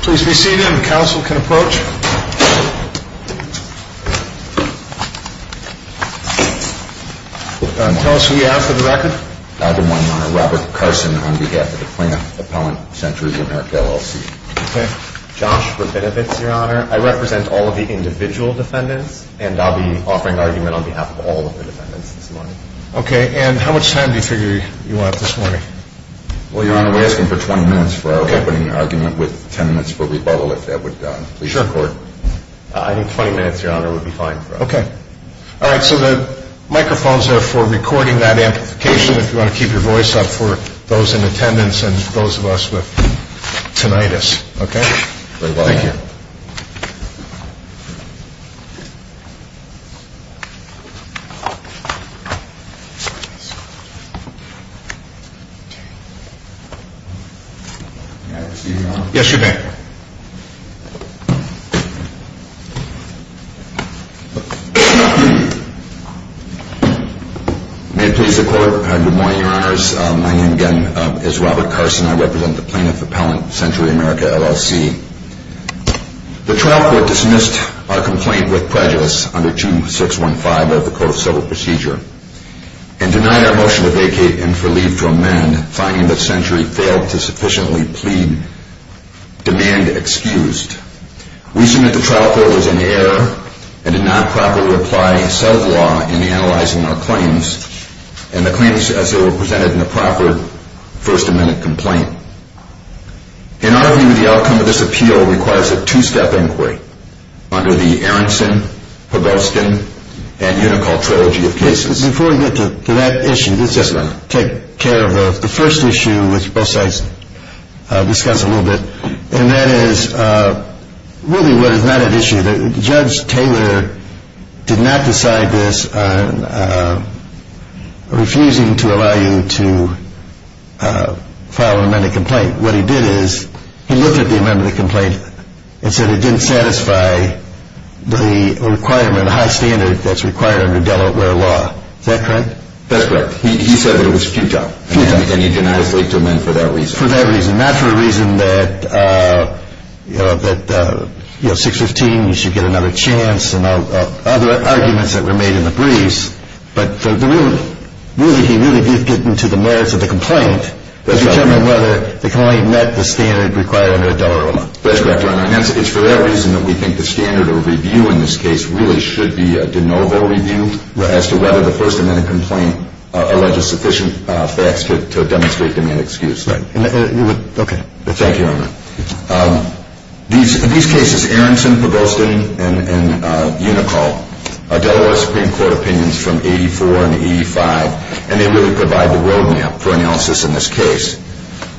Please be seated and counsel can approach. Tell us who you have for the record. Good morning, Your Honor. Robert Carson on behalf of the Plaintiff Appellant Center of the America LLC. Okay. Josh, for benefits, Your Honor, I represent all of the individual defendants and I'll be offering argument on behalf of all of the defendants this morning. Okay. And how much time do you figure you want this morning? Well, Your Honor, we're asking for 20 minutes for our opening argument with 10 minutes for rebuttal if that would please the Court. Sure. I think 20 minutes, Your Honor, would be fine for us. Okay. All right. So the microphones are for recording that amplification if you want to keep your voice up for those in attendance and those of us with tinnitus. Okay. Thank you. May I proceed, Your Honor? Yes, you may. May it please the Court. Good morning, Your Honors. My name again is Robert Carson. I represent the Plaintiff Appellant Center of the America LLC. The trial court dismissed our complaint with prejudice under 2615 of the Code of Civil Procedure and denied our motion to vacate and for leave to amend, finding that Century failed to sufficiently plead demand excused. We submit the trial court was in error and did not properly apply sub-law in analyzing our claims and the claims as they were presented in the proper First Amendment complaint. In our view, the outcome of this appeal requires a two-step inquiry under the Aronson, Pugoskin, and Unicall trilogy of cases. Before we get to that issue, let's just take care of the first issue, which both sides discussed a little bit, and that is really what is not at issue. Judge Taylor did not decide this on refusing to allow you to file an amended complaint. What he did is he looked at the amended complaint and said it didn't satisfy the requirement, the high standard that's required under Delaware law. Is that correct? That's correct. He said that it was futile and he denied us leave to amend for that reason. For that reason, not for a reason that, you know, 615, you should get another chance and other arguments that were made in the briefs, but really he really did get into the merits of the complaint to determine whether the claim met the standard required under Delaware law. That's correct, Your Honor, and it's for that reason that we think the standard of review in this case really should be a de novo review as to whether the First Amendment complaint alleges sufficient facts to demonstrate the main excuse. In these cases, Aronson, Provostin, and Unicole are Delaware Supreme Court opinions from 84 and 85, and they really provide the roadmap for analysis in this case.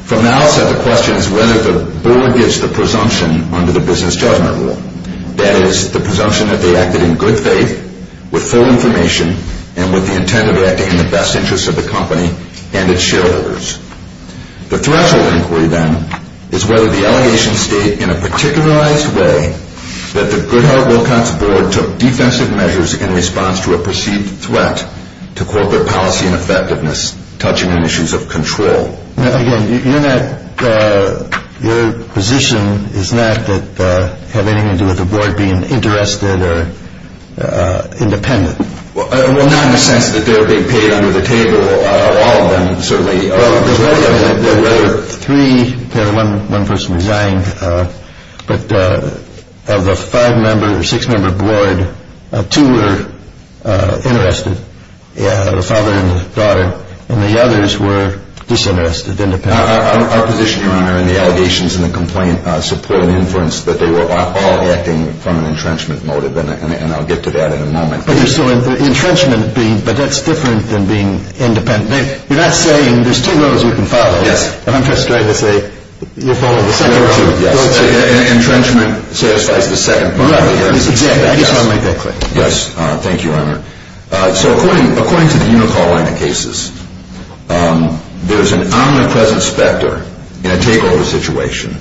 From the outset, the question is whether the board gives the presumption under the business judgment rule. That is, the presumption that they acted in good faith, with full information, and with the intent of acting in the best interest of the company and its shareholders. The threshold inquiry, then, is whether the allegations state in a particularized way that the Goodhart-Wilcox board took defensive measures in response to a perceived threat to corporate policy and effectiveness, touching on issues of control. Now, again, your position is not that it had anything to do with the board being interested or independent. Well, not in the sense that they were being paid under the table. All of them certainly are. There were three. One person resigned. But of the five-member, six-member board, two were interested, the father and the daughter, and the others were disinterested, independent. Our position, Your Honor, in the allegations and the complaint support and inference that they were all acting from an entrenchment motive, and I'll get to that in a moment. But there's still an entrenchment, but that's different than being independent. You're not saying there's two roads you can follow. Yes. I'm just trying to say you're following the second road. Entrenchment satisfies the second part. Exactly. Yes. Thank you, Your Honor. So according to the Unicall line of cases, there's an omnipresent specter in a takeover situation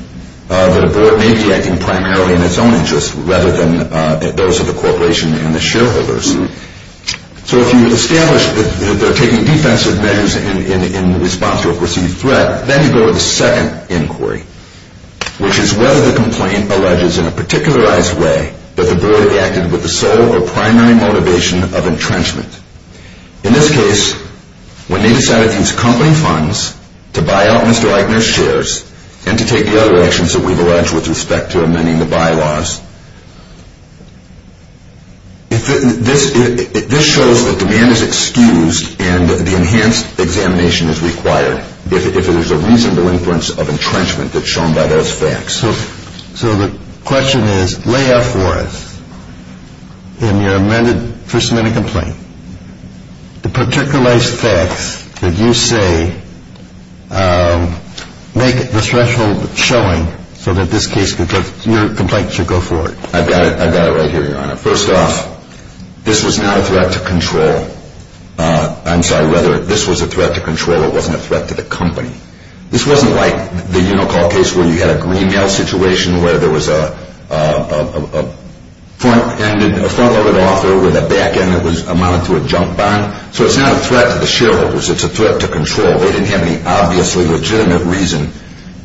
that a board may be acting primarily in its own interest rather than those of the corporation and the shareholders. So if you establish that they're taking defensive measures in response to a perceived threat, then you go to the second inquiry, which is whether the complaint alleges in a particularized way that the board acted with the sole or primary motivation of entrenchment. In this case, when they decided to use company funds to buy out Mr. Eichner's shares and to take the other actions that we've alleged with respect to amending the bylaws, this shows that demand is excused and the enhanced examination is required if there's a reasonable inference of entrenchment that's shown by those facts. So the question is, lay out for us in your first amendment complaint the particularized facts that you say make the threshold showing so that this case, your complaint, should go forward. I've got it right here, Your Honor. First off, this was not a threat to control. I'm sorry. Rather, this was a threat to control. It wasn't a threat to the company. This wasn't like the Unicall case where you had a green-mail situation where there was a front-loaded offer with a back-end that amounted to a junk bond. So it's not a threat to the shareholders. It's a threat to control. They didn't have any obviously legitimate reason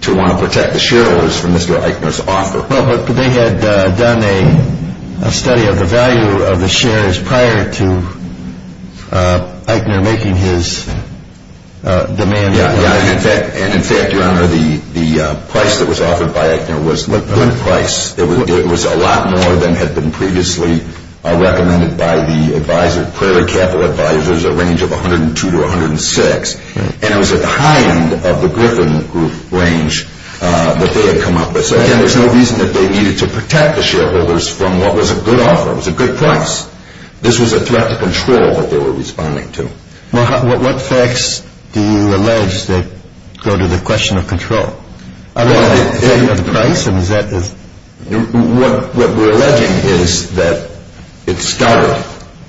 to want to protect the shareholders from Mr. Eichner's offer. Well, but they had done a study of the value of the shares prior to Eichner making his demand. And, in fact, Your Honor, the price that was offered by Eichner was a good price. It was a lot more than had been previously recommended by the Prairie Capital advisors, a range of $102 to $106. And it was at the high end of the Griffin group range that they had come up with. So, again, there's no reason that they needed to protect the shareholders from what was a good offer. It was a good price. This was a threat to control that they were responding to. Well, what facts do you allege that go to the question of control? Is that the price? What we're alleging is that it started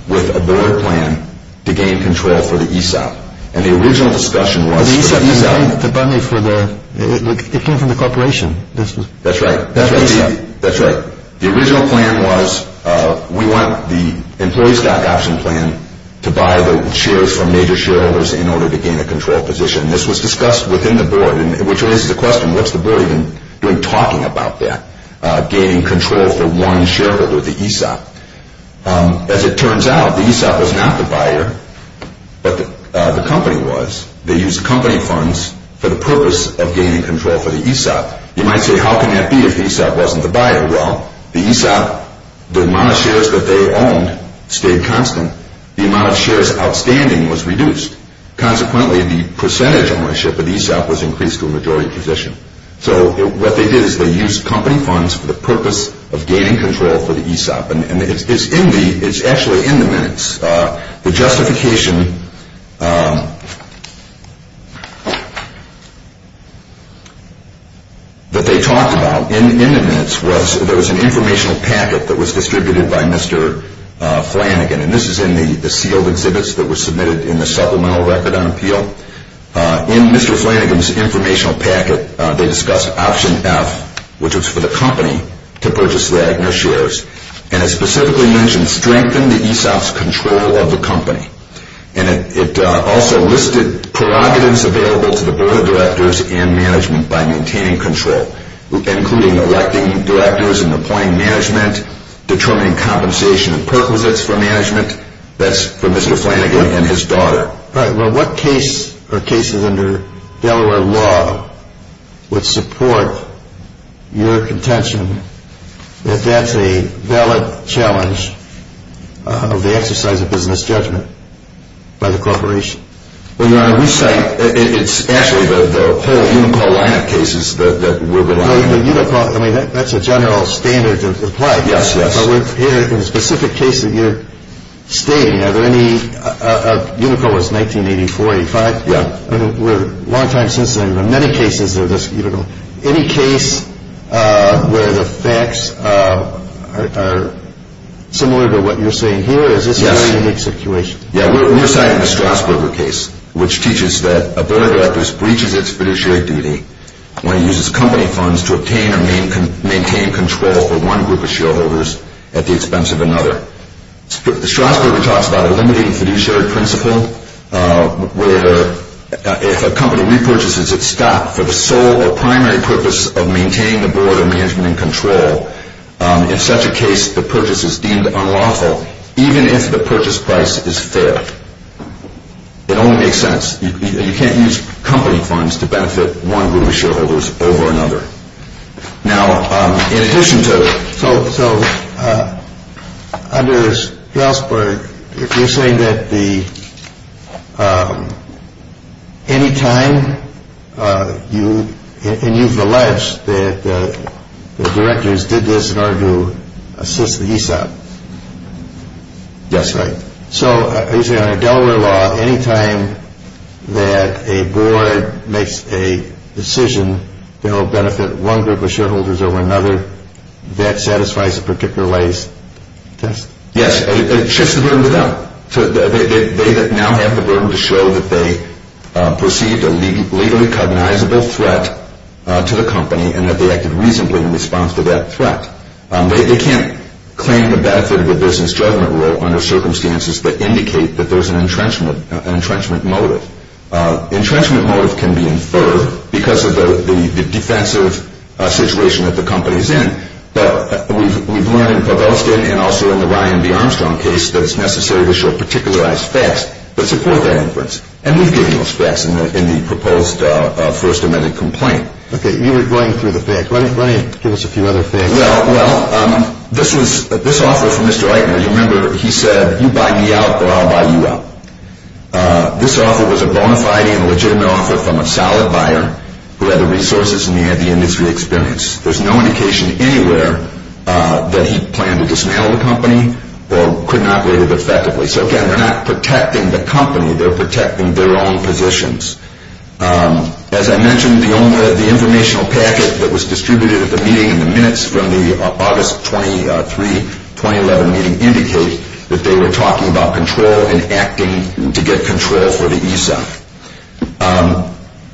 with a board plan to gain control for the ESOP. And the original discussion was for the ESOP. The ESOP came from the corporation. That's right. That's right. The original plan was we want the employee stock option plan to buy the shares from major shareholders in order to gain a control position. This was discussed within the board, which raises the question, what's the board even doing talking about that, gaining control for one shareholder, the ESOP? As it turns out, the ESOP was not the buyer, but the company was. They used company funds for the purpose of gaining control for the ESOP. You might say, how can that be if ESOP wasn't the buyer? Well, the ESOP, the amount of shares that they owned stayed constant. The amount of shares outstanding was reduced. Consequently, the percentage ownership of the ESOP was increased to a majority position. So what they did is they used company funds for the purpose of gaining control for the ESOP. And it's actually in the minutes. The justification that they talked about in the minutes was there was an informational packet that was distributed by Mr. Flanagan. And this is in the sealed exhibits that were submitted in the supplemental record on appeal. In Mr. Flanagan's informational packet, they discussed option F, which was for the company to purchase Wagner shares. And it specifically mentioned strengthen the ESOP's control of the company. And it also listed prerogatives available to the board of directors and management by maintaining control, including electing directors and appointing management, determining compensation and purposes for management. That's for Mr. Flanagan and his daughter. All right. Well, what case or cases under Delaware law would support your contention that that's a valid challenge of the exercise of business judgment by the corporation? Well, Your Honor, we say it's actually the whole Unicole line of cases that we're evaluating. The Unicole, I mean, that's a general standard to apply. Yes, yes. Well, we're here in a specific case that you're stating. Are there any – Unicole is 1984-85. Yeah. We're a long time since then. There are many cases of this Unicole. Any case where the facts are similar to what you're saying here? Yes. Or is this a very unique situation? Yeah, we're citing the Strasburger case, which teaches that a board of directors breaches its fiduciary duty when it uses company funds to obtain or maintain control for one group of shareholders at the expense of another. The Strasburger talks about a limiting fiduciary principle where if a company repurchases its stock for the sole or primary purpose of maintaining the board of management in control, in such a case the purchase is deemed unlawful even if the purchase price is fair. It only makes sense. You can't use company funds to benefit one group of shareholders over another. Now, in addition to – So under Strasburg, you're saying that any time you – and you've alleged that the directors did this in order to assist the ESOP. Yes, right. So you're saying under Delaware law, any time that a board makes a decision to help benefit one group of shareholders over another, that satisfies a particular lay's test? Yes, and it shifts the burden to them. They now have the burden to show that they perceived a legally cognizable threat to the company and that they acted reasonably in response to that threat. They can't claim the benefit of a business judgment rule under circumstances that indicate that there's an entrenchment motive. Entrenchment motive can be inferred because of the defensive situation that the company's in, but we've learned in Povelstin and also in the Ryan B. Armstrong case that it's necessary to show particularized facts that support that inference, and we've given those facts in the proposed First Amendment complaint. Okay, you were going through the facts. Why don't you give us a few other things? Well, this offer from Mr. Eichner, you remember he said, you buy me out or I'll buy you out. This offer was a bona fide and legitimate offer from a solid buyer who had the resources and he had the industry experience. There's no indication anywhere that he planned to dismantle the company or couldn't operate it effectively. So again, they're not protecting the company, they're protecting their own positions. As I mentioned, the informational packet that was distributed at the meeting and the minutes from the August 23, 2011 meeting indicate that they were talking about control and acting to get control for the ESOP.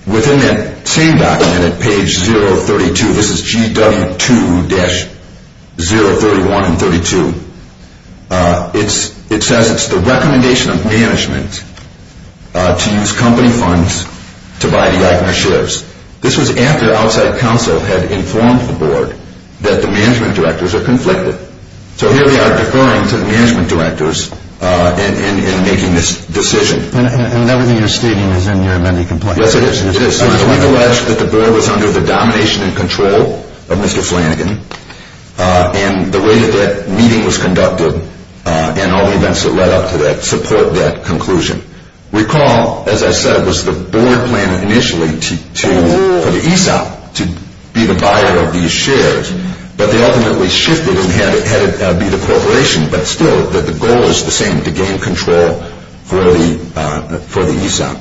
Within that same document at page 032, this is GW2-031 and 32, it says it's the recommendation of management to use company funds to buy the Eichner shares. This was after outside counsel had informed the board that the management directors are conflicted. So here we are deferring to the management directors in making this decision. And everything you're stating is in your amended complaint. Yes, it is. We've alleged that the board was under the domination and control of Mr. Flanagan and the way that that meeting was conducted and all the events that led up to that support that conclusion. Recall, as I said, it was the board plan initially for the ESOP to be the buyer of these shares, but they ultimately shifted and had it be the corporation, but still the goal is the same, to gain control for the ESOP.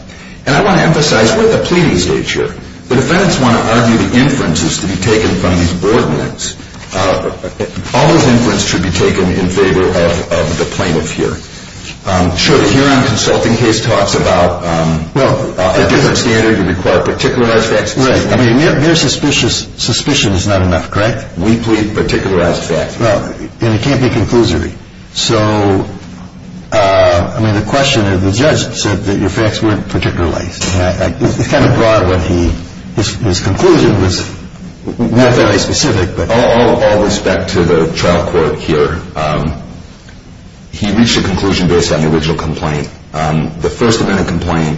And I want to emphasize, we're at the pleading stage here. The defendants want to argue the inferences to be taken from these board notes. All those inferences should be taken in favor of the plaintiff here. Sure. The Huron consulting case talks about a different standard would require particularized facts. Right. I mean, mere suspicion is not enough, correct? Weakly particularized facts. Well, and it can't be conclusory. So, I mean, the question is, the judge said that your facts weren't particularized. It's kind of broad what he, his conclusion was not very specific. All respect to the trial court here, he reached a conclusion based on the original complaint. The first amendment complaint,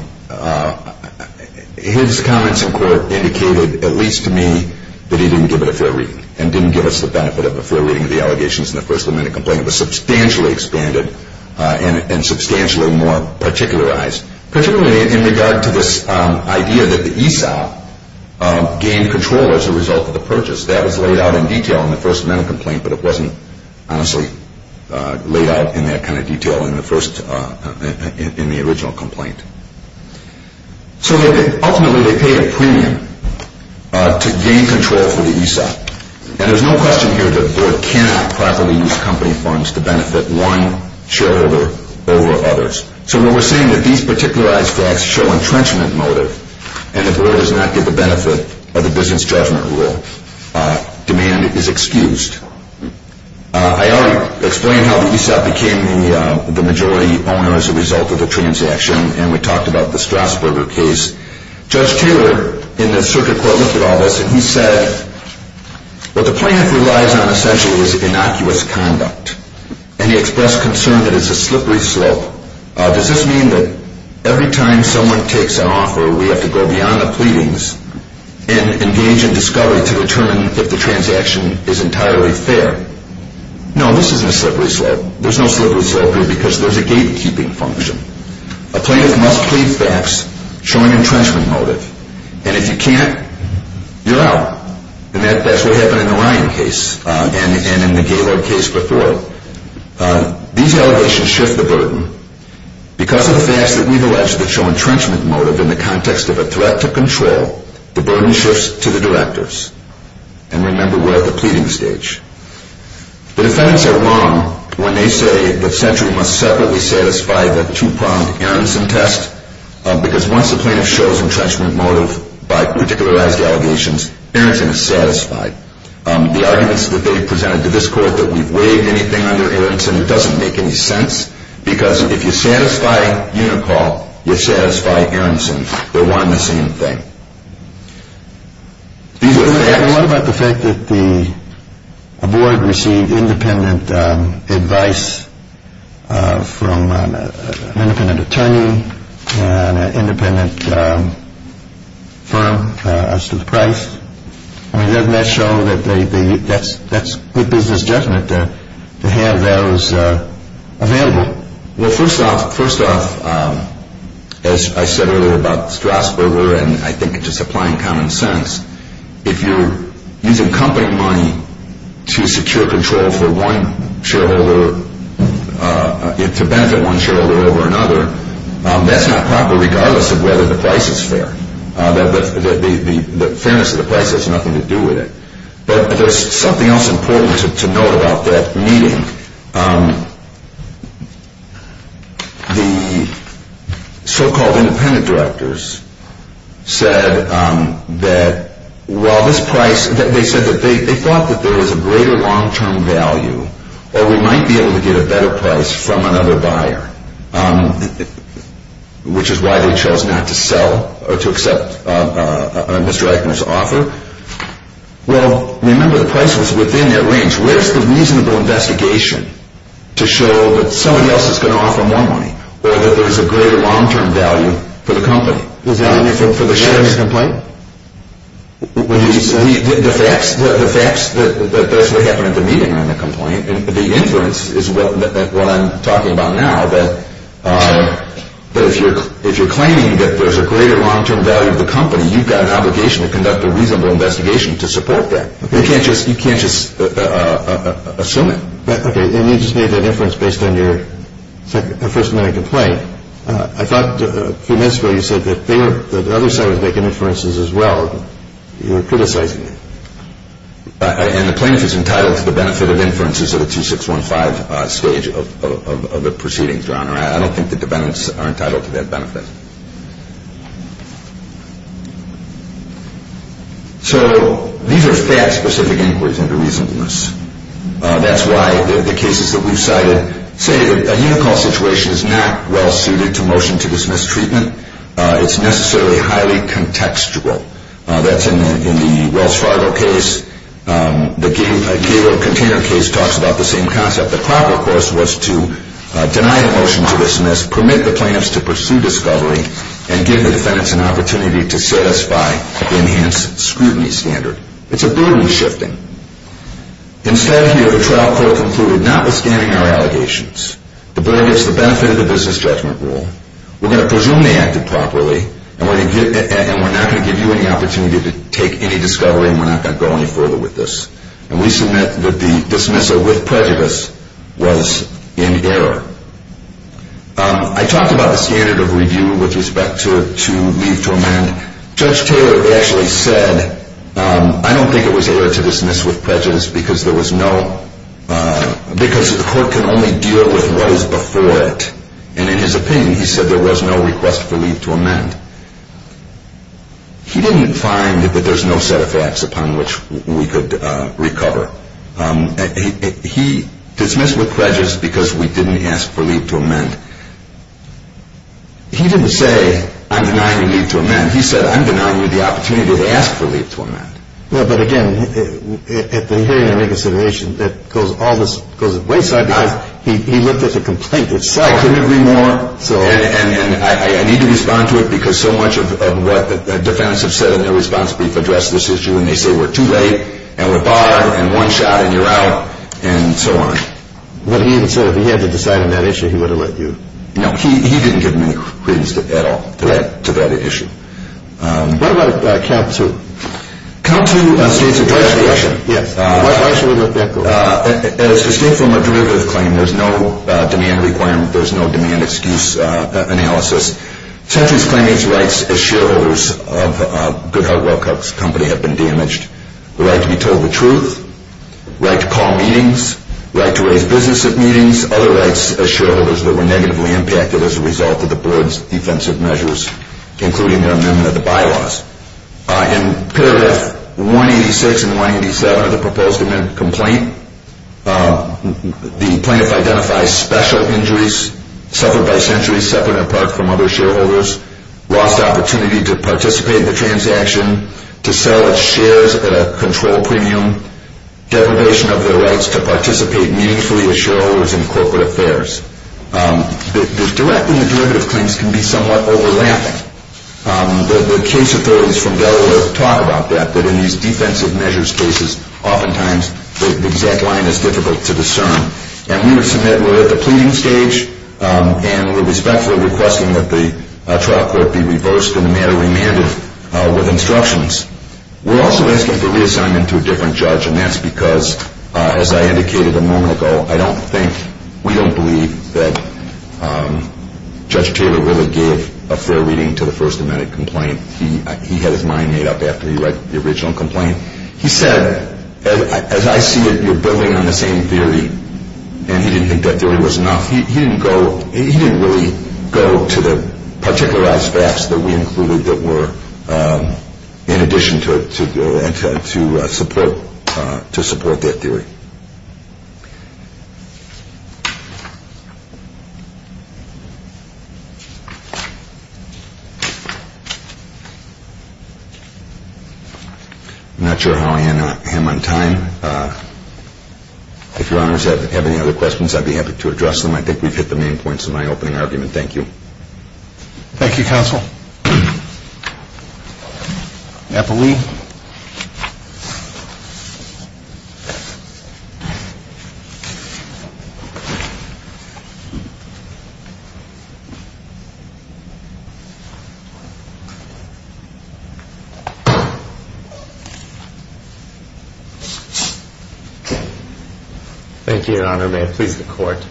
his comments in court indicated, at least to me, that he didn't give it a fair reading and didn't give us the benefit of a fair reading of the allegations in the first amendment complaint. It was substantially expanded and substantially more particularized. Particularly in regard to this idea that the ESOP gained control as a result of the purchase. That was laid out in detail in the first amendment complaint, but it wasn't honestly laid out in that kind of detail in the first, in the original complaint. So, ultimately, they paid a premium to gain control for the ESOP. And there's no question here that the board cannot properly use company funds to benefit one shareholder over others. So, when we're saying that these particularized facts show entrenchment motive and the board does not get the benefit of the business judgment rule, demand is excused. I already explained how the ESOP became the majority owner as a result of the transaction, and we talked about the Strasburger case. Judge Taylor, in the circuit court, looked at all this, and he said, what the plaintiff relies on, essentially, is innocuous conduct. And he expressed concern that it's a slippery slope. Does this mean that every time someone takes an offer, we have to go beyond the pleadings and engage in discovery to determine if the transaction is entirely fair? No, this isn't a slippery slope. There's no slippery slope here because there's a gatekeeping function. A plaintiff must plead facts showing entrenchment motive. And if you can't, you're out. And that's what happened in the Ryan case and in the Gaylord case before. These allegations shift the burden. Because of the facts that we've alleged that show entrenchment motive in the context of a threat to control, the burden shifts to the directors. And remember, we're at the pleading stage. The defendants are wrong when they say that Century must separately satisfy the two-pronged Aronson test because once the plaintiff shows entrenchment motive by particularized allegations, Aronson is satisfied. The arguments that they presented to this court that we've waived anything under Aronson, it doesn't make any sense because if you satisfy Unicall, you satisfy Aronson. They're one and the same thing. What about the fact that a board received independent advice from an independent attorney and an independent firm as to the price? Doesn't that show that that's good business judgment to have those available? Well, first off, as I said earlier about Strasburger and I think just applying common sense, if you're using company money to secure control for one shareholder, to benefit one shareholder over another, that's not proper regardless of whether the price is fair. The fairness of the price has nothing to do with it. But there's something else important to note about that meeting. The so-called independent directors said that while this price, they said that they thought that there was a greater long-term value or we might be able to get a better price from another buyer, which is why they chose not to sell or to accept Mr. Eichner's offer. Well, remember the price was within that range. Where's the reasonable investigation to show that somebody else is going to offer more money or that there's a greater long-term value for the company? Is that in the complaint? The facts, that's what happened at the meeting on the complaint. The inference is what I'm talking about now, that if you're claiming that there's a greater long-term value of the company, then you've got an obligation to conduct a reasonable investigation to support that. You can't just assume it. Okay. And you just made that inference based on your first amendment complaint. I thought from this where you said that the other side was making inferences as well. You were criticizing it. And the plaintiff is entitled to the benefit of inferences at a 2615 stage of the proceedings, Your Honor. I don't think the defendants are entitled to that benefit. So these are fact-specific inquiries into reasonableness. That's why the cases that we've cited say that a unicall situation is not well-suited to motion to dismiss treatment. It's necessarily highly contextual. That's in the Wells Fargo case. The Gaylord container case talks about the same concept. The proper course was to deny the motion to dismiss, permit the plaintiffs to pursue discovery, and give the defendants an opportunity to satisfy the enhanced scrutiny standard. It's a burden-shifting. Instead here, the trial court concluded, notwithstanding our allegations, the bill gives the benefit of the business judgment rule. We're going to presume they acted properly, and we're not going to give you any opportunity to take any discovery, and we're not going to go any further with this. And we submit that the dismissal with prejudice was in error. I talked about the standard of review with respect to leave to amend. Judge Taylor actually said, I don't think it was error to dismiss with prejudice because the court can only deal with what is before it. And in his opinion, he said there was no request for leave to amend. He didn't find that there's no set of facts upon which we could recover. He dismissed with prejudice because we didn't ask for leave to amend. He didn't say, I'm denying you leave to amend. He said, I'm denying you the opportunity to ask for leave to amend. Well, but again, at the hearing, I make a suggestion that goes all this goes to the wayside because he looked at the complaint itself. And I need to respond to it because so much of what the defendants have said in their response brief addressed this issue, and they say, we're too late, and we're barred, and one shot, and you're out, and so on. But he even said if he had to decide on that issue, he would have let you. No, he didn't give me any credence at all to that issue. What about count two? Count two states address the issue. Why should we let that go? As distinct from a derivative claim, there's no demand requirement. There's no demand-excuse analysis. Tetley's claimants' rights as shareholders of Goodhart-Wellcock's company have been damaged, the right to be told the truth, right to call meetings, right to raise business at meetings, other rights as shareholders that were negatively impacted as a result of the board's defensive measures, including their amendment of the bylaws. In Paragraph 186 and 187 of the proposed amendment complaint, the plaintiff identifies special injuries, suffered by centuries separate and apart from other shareholders, lost opportunity to participate in the transaction, to sell its shares at a control premium, deprivation of their rights to participate meaningfully as shareholders in corporate affairs. The direct and the derivative claims can be somewhat overlapping. The case authorities from Delaware have talked about that, that in these defensive measures cases oftentimes the exact line is difficult to discern. And we would submit we're at the pleading stage and we respectfully request that the trial court be reversed and the matter remanded with instructions. We're also asking for reassignment to a different judge, and that's because, as I indicated a moment ago, I don't think, we don't believe that Judge Taylor really gave a fair reading to the first amendment complaint. He had his mind made up after he read the original complaint. He said, as I see it, you're building on the same theory, and he didn't think that theory was enough. He didn't really go to the particularized facts that we included that were in addition to support that theory. I'm not sure how I end on time. If Your Honors have any other questions, I'd be happy to address them. I think we've hit the main points of my opening argument. Thank you. Thank you, Counsel. Thank you, Your Honor. May it please the Court.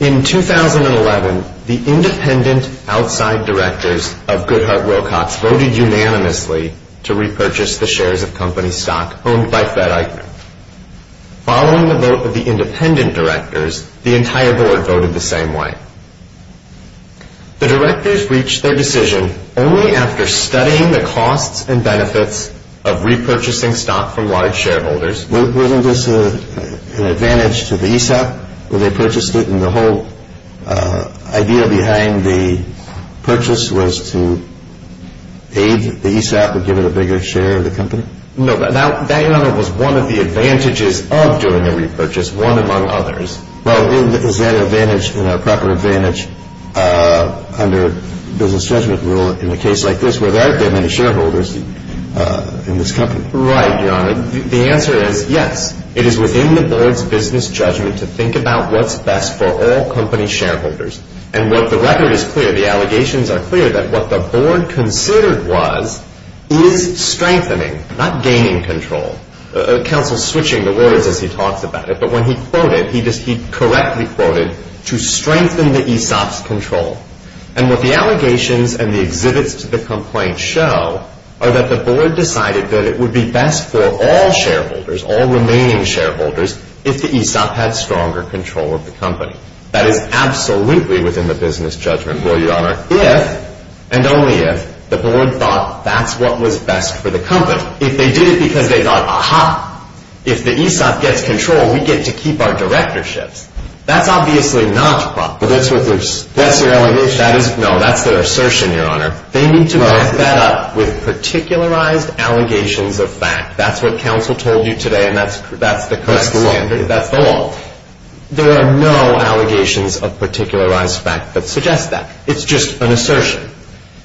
In 2011, the independent outside directors of Goodhart Wilcox voted unanimously to repurchase the shares of company stock owned by FedEx. Following the vote of the independent directors, the entire board voted the same way. The directors reached their decision only after studying the costs and benefits of repurchasing stock from large shareholders. Wasn't this an advantage to the ESOP where they purchased it, and the whole idea behind the purchase was to aid the ESOP and give it a bigger share of the company? No. That, Your Honor, was one of the advantages of doing the repurchase, one among others. Well, is that an advantage, a proper advantage under business judgment rule in a case like this where there aren't that many shareholders in this company? Right, Your Honor. The answer is yes. It is within the board's business judgment to think about what's best for all company shareholders. And what the record is clear, the allegations are clear that what the board considered was is strengthening, not gaining control. Counsel's switching the words as he talks about it, but when he quoted, he correctly quoted, to strengthen the ESOP's control. And what the allegations and the exhibits to the complaint show are that the board decided that it would be best for all shareholders, all remaining shareholders, if the ESOP had stronger control of the company. That is absolutely within the business judgment rule, Your Honor, if and only if the board thought that's what was best for the company. If they did it because they thought, aha, if the ESOP gets control, we get to keep our directorships. That's obviously not proper. That's their allegation? No, that's their assertion, Your Honor. They need to back that up with particularized allegations of fact. That's what counsel told you today, and that's the correct standard. That's the law? That's the law. There are no allegations of particularized fact that suggest that. It's just an assertion.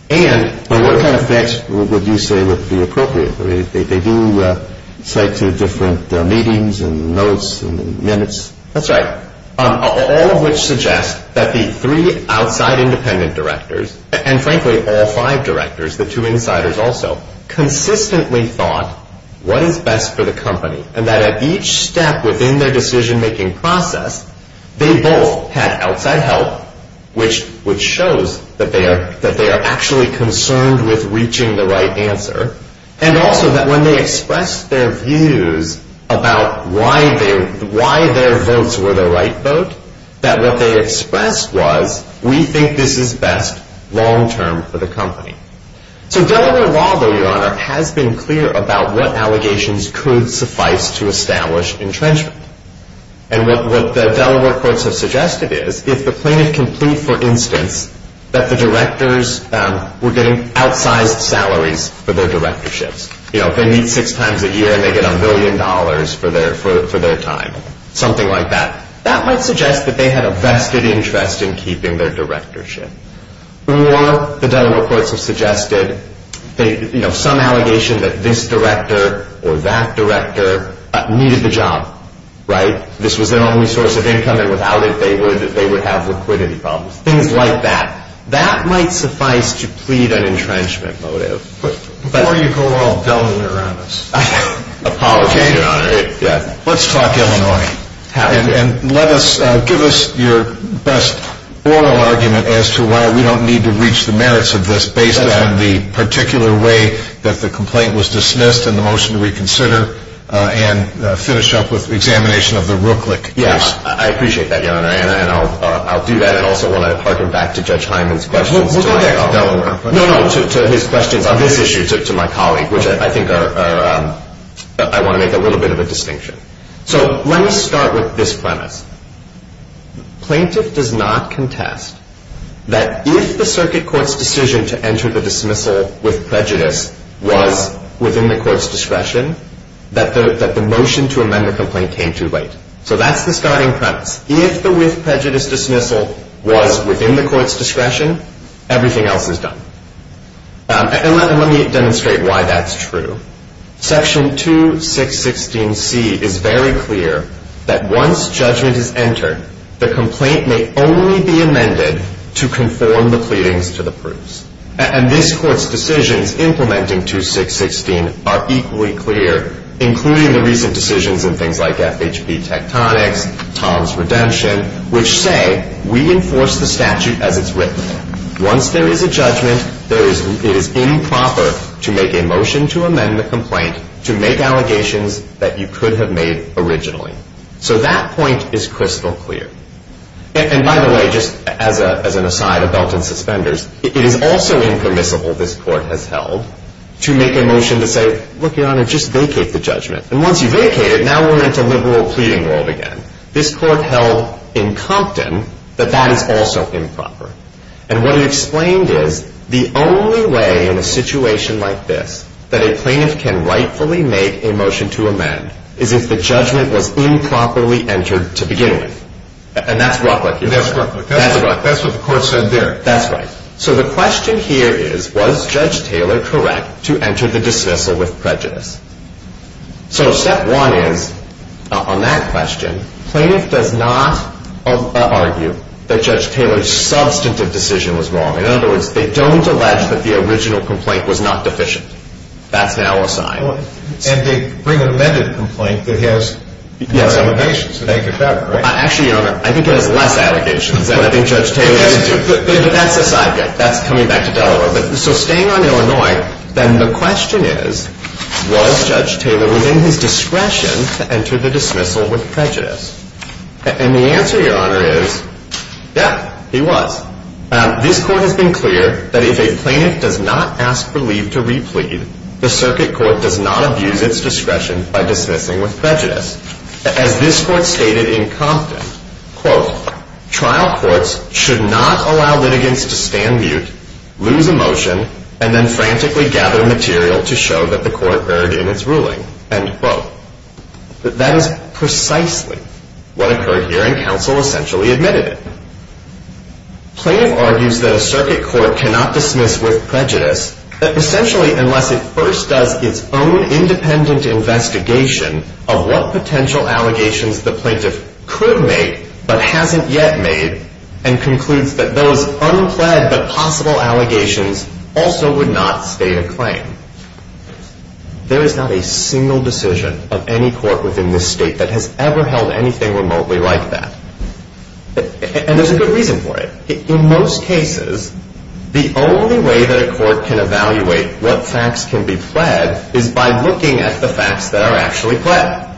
And what kind of facts would you say would be appropriate? They do cite to different meetings and notes and minutes. That's right. All of which suggest that the three outside independent directors, and frankly all five directors, the two insiders also, consistently thought what is best for the company. And that at each step within their decision-making process, they both had outside help, which shows that they are actually concerned with reaching the right answer. And also that when they expressed their views about why their votes were the right vote, that what they expressed was, we think this is best long-term for the company. So Delaware law, though, Your Honor, has been clear about what allegations could suffice to establish entrenchment. And what the Delaware courts have suggested is, if the plaintiff can plead, for instance, that the directors were getting outsized salaries for their directorships, you know, if they meet six times a year and they get a million dollars for their time, something like that, that might suggest that they had a vested interest in keeping their directorship. Or the Delaware courts have suggested, you know, some allegation that this director or that director needed the job, right? This was their only source of income, and without it, they would have liquidity problems. Things like that. That might suffice to plead an entrenchment motive. Before you go all Delaware-on-us. I apologize, Your Honor. Let's talk Illinois. And let us, give us your best oral argument as to why we don't need to reach the merits of this based on the particular way that the complaint was dismissed and the motion to reconsider and finish up with examination of the Rooklick case. Yeah, I appreciate that, Your Honor, and I'll do that. I also want to harken back to Judge Hyman's questions. We'll go back to Delaware. No, no, to his questions on this issue to my colleague, which I think are, I want to make a little bit of a distinction. So let me start with this premise. Plaintiff does not contest that if the circuit court's decision to enter the dismissal with prejudice was within the court's discretion, that the motion to amend the complaint came too late. So that's the starting premise. If the with prejudice dismissal was within the court's discretion, everything else is done. And let me demonstrate why that's true. Section 2616C is very clear that once judgment is entered, the complaint may only be amended to conform the pleadings to the proofs. And this court's decisions implementing 2616 are equally clear, including the recent decisions in things like FHB Tectonics, Tom's Redemption, which say we enforce the statute as it's written. Once there is a judgment, it is improper to make a motion to amend the complaint to make allegations that you could have made originally. So that point is crystal clear. And by the way, just as an aside, a belt and suspenders, it is also impermissible, this court has held, to make a motion to say, look, Your Honor, just vacate the judgment. And once you vacate it, now we're into liberal pleading world again. This court held in Compton that that is also improper. And what it explained is the only way in a situation like this that a plaintiff can rightfully make a motion to amend is if the judgment was improperly entered to begin with. And that's roughly. That's roughly. That's what the court said there. That's right. So the question here is, was Judge Taylor correct to enter the dismissal with prejudice? So step one is, on that question, plaintiff does not argue that Judge Taylor's substantive decision was wrong. In other words, they don't allege that the original complaint was not deficient. That's now a sign. And they bring an amended complaint that has more allegations than they could cover, right? Actually, Your Honor, I think it has less allegations than I think Judge Taylor has two. But that's aside. That's coming back to Delaware. So staying on Illinois, then the question is, was Judge Taylor within his discretion to enter the dismissal with prejudice? And the answer, Your Honor, is, yeah, he was. This court has been clear that if a plaintiff does not ask for leave to replead, the circuit court does not abuse its discretion by dismissing with prejudice. As this court stated in Compton, quote, trial courts should not allow litigants to stand mute, lose a motion, and then frantically gather material to show that the court erred in its ruling, end quote. That is precisely what occurred here, and counsel essentially admitted it. Plaintiff argues that a circuit court cannot dismiss with prejudice, essentially unless it first does its own independent investigation of what potential allegations the plaintiff could make but hasn't yet made and concludes that those unplaid but possible allegations also would not stay a claim. There is not a single decision of any court within this state that has ever held anything remotely like that. And there's a good reason for it. In most cases, the only way that a court can evaluate what facts can be pled is by looking at the facts that are actually pled.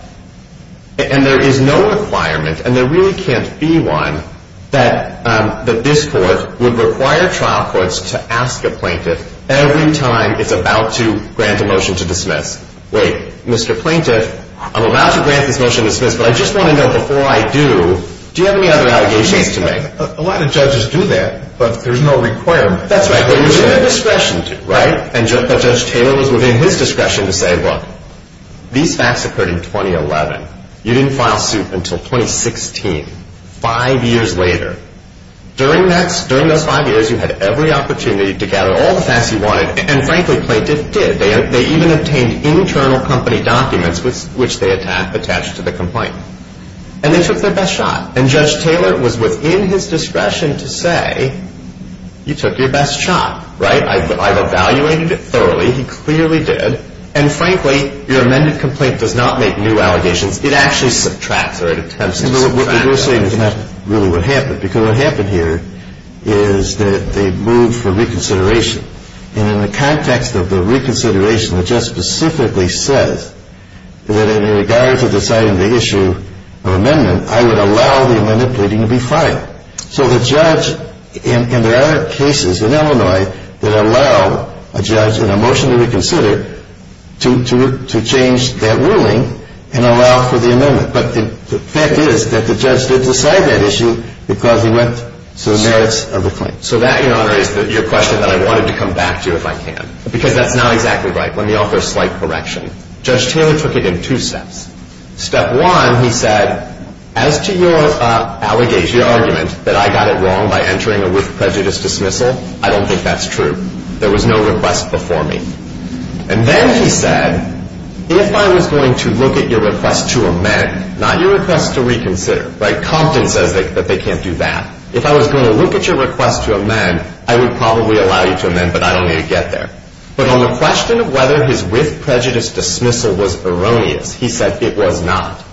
And there is no requirement, and there really can't be one, that this court would require trial courts to ask a plaintiff every time it's about to grant a motion to dismiss. Wait, Mr. Plaintiff, I'm allowed to grant this motion to dismiss, but I just want to know before I do, do you have any other allegations to make? A lot of judges do that, but there's no requirement. That's right, but there's no discretion to, right? And Judge Taylor was within his discretion to say, look, these facts occurred in 2011. You didn't file suit until 2016, five years later. During those five years, you had every opportunity to gather all the facts you wanted, and frankly, Plaintiff did. They even obtained internal company documents, which they attached to the complaint, and they took their best shot. And Judge Taylor was within his discretion to say, you took your best shot, right? I've evaluated it thoroughly. He clearly did. And frankly, your amended complaint does not make new allegations. It actually subtracts, or it attempts to subtract. But what you're saying is not really what happened, because what happened here is that they moved for reconsideration. And in the context of the reconsideration, the judge specifically says that in regards to deciding the issue of amendment, I would allow the amendment pleading to be filed. So the judge, and there are cases in Illinois that allow a judge in a motion to reconsider to change that ruling and allow for the amendment. But the fact is that the judge did decide that issue because he went to the merits of the claim. So that, Your Honor, is your question that I wanted to come back to if I can, because that's not exactly right. Let me offer a slight correction. Judge Taylor took it in two steps. Step one, he said, as to your argument that I got it wrong by entering a with prejudice dismissal, I don't think that's true. There was no request before me. And then he said, if I was going to look at your request to amend, not your request to reconsider, right? Compton says that they can't do that. If I was going to look at your request to amend, I would probably allow you to amend, but I don't need to get there. But on the question of whether his with prejudice dismissal was erroneous, he said it was not.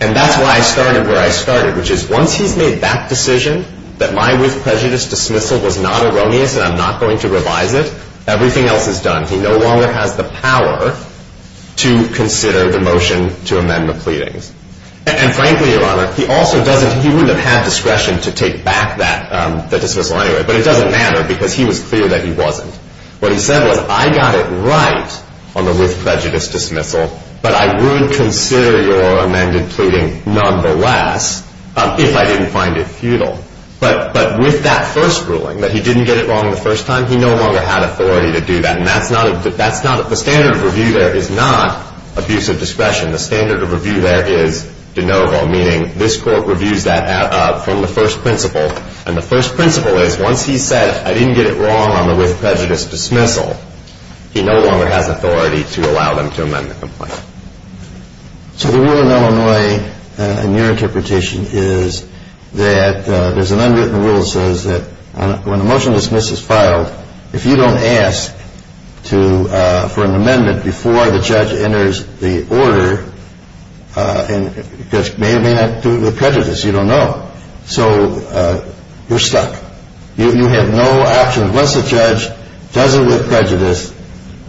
And that's why I started where I started, which is once he's made that decision, that my with prejudice dismissal was not erroneous and I'm not going to revise it, everything else is done. He no longer has the power to consider the motion to amend the pleadings. And frankly, Your Honor, he also doesn't, he wouldn't have had discretion to take back that dismissal anyway. But it doesn't matter because he was clear that he wasn't. What he said was I got it right on the with prejudice dismissal, but I would consider your amended pleading nonetheless if I didn't find it futile. But with that first ruling, that he didn't get it wrong the first time, he no longer had authority to do that. And that's not, the standard of review there is not abuse of discretion. The standard of review there is de novo, meaning this court reviews that from the first principle. And the first principle is once he said I didn't get it wrong on the with prejudice dismissal, he no longer has authority to allow them to amend the complaint. So the rule in Illinois, in your interpretation, is that there's an unwritten rule that says that when a motion to dismiss is filed, if you don't ask for an amendment before the judge enters the order, the judge may or may not do it with prejudice, you don't know. So you're stuck. You have no option. Once the judge does it with prejudice,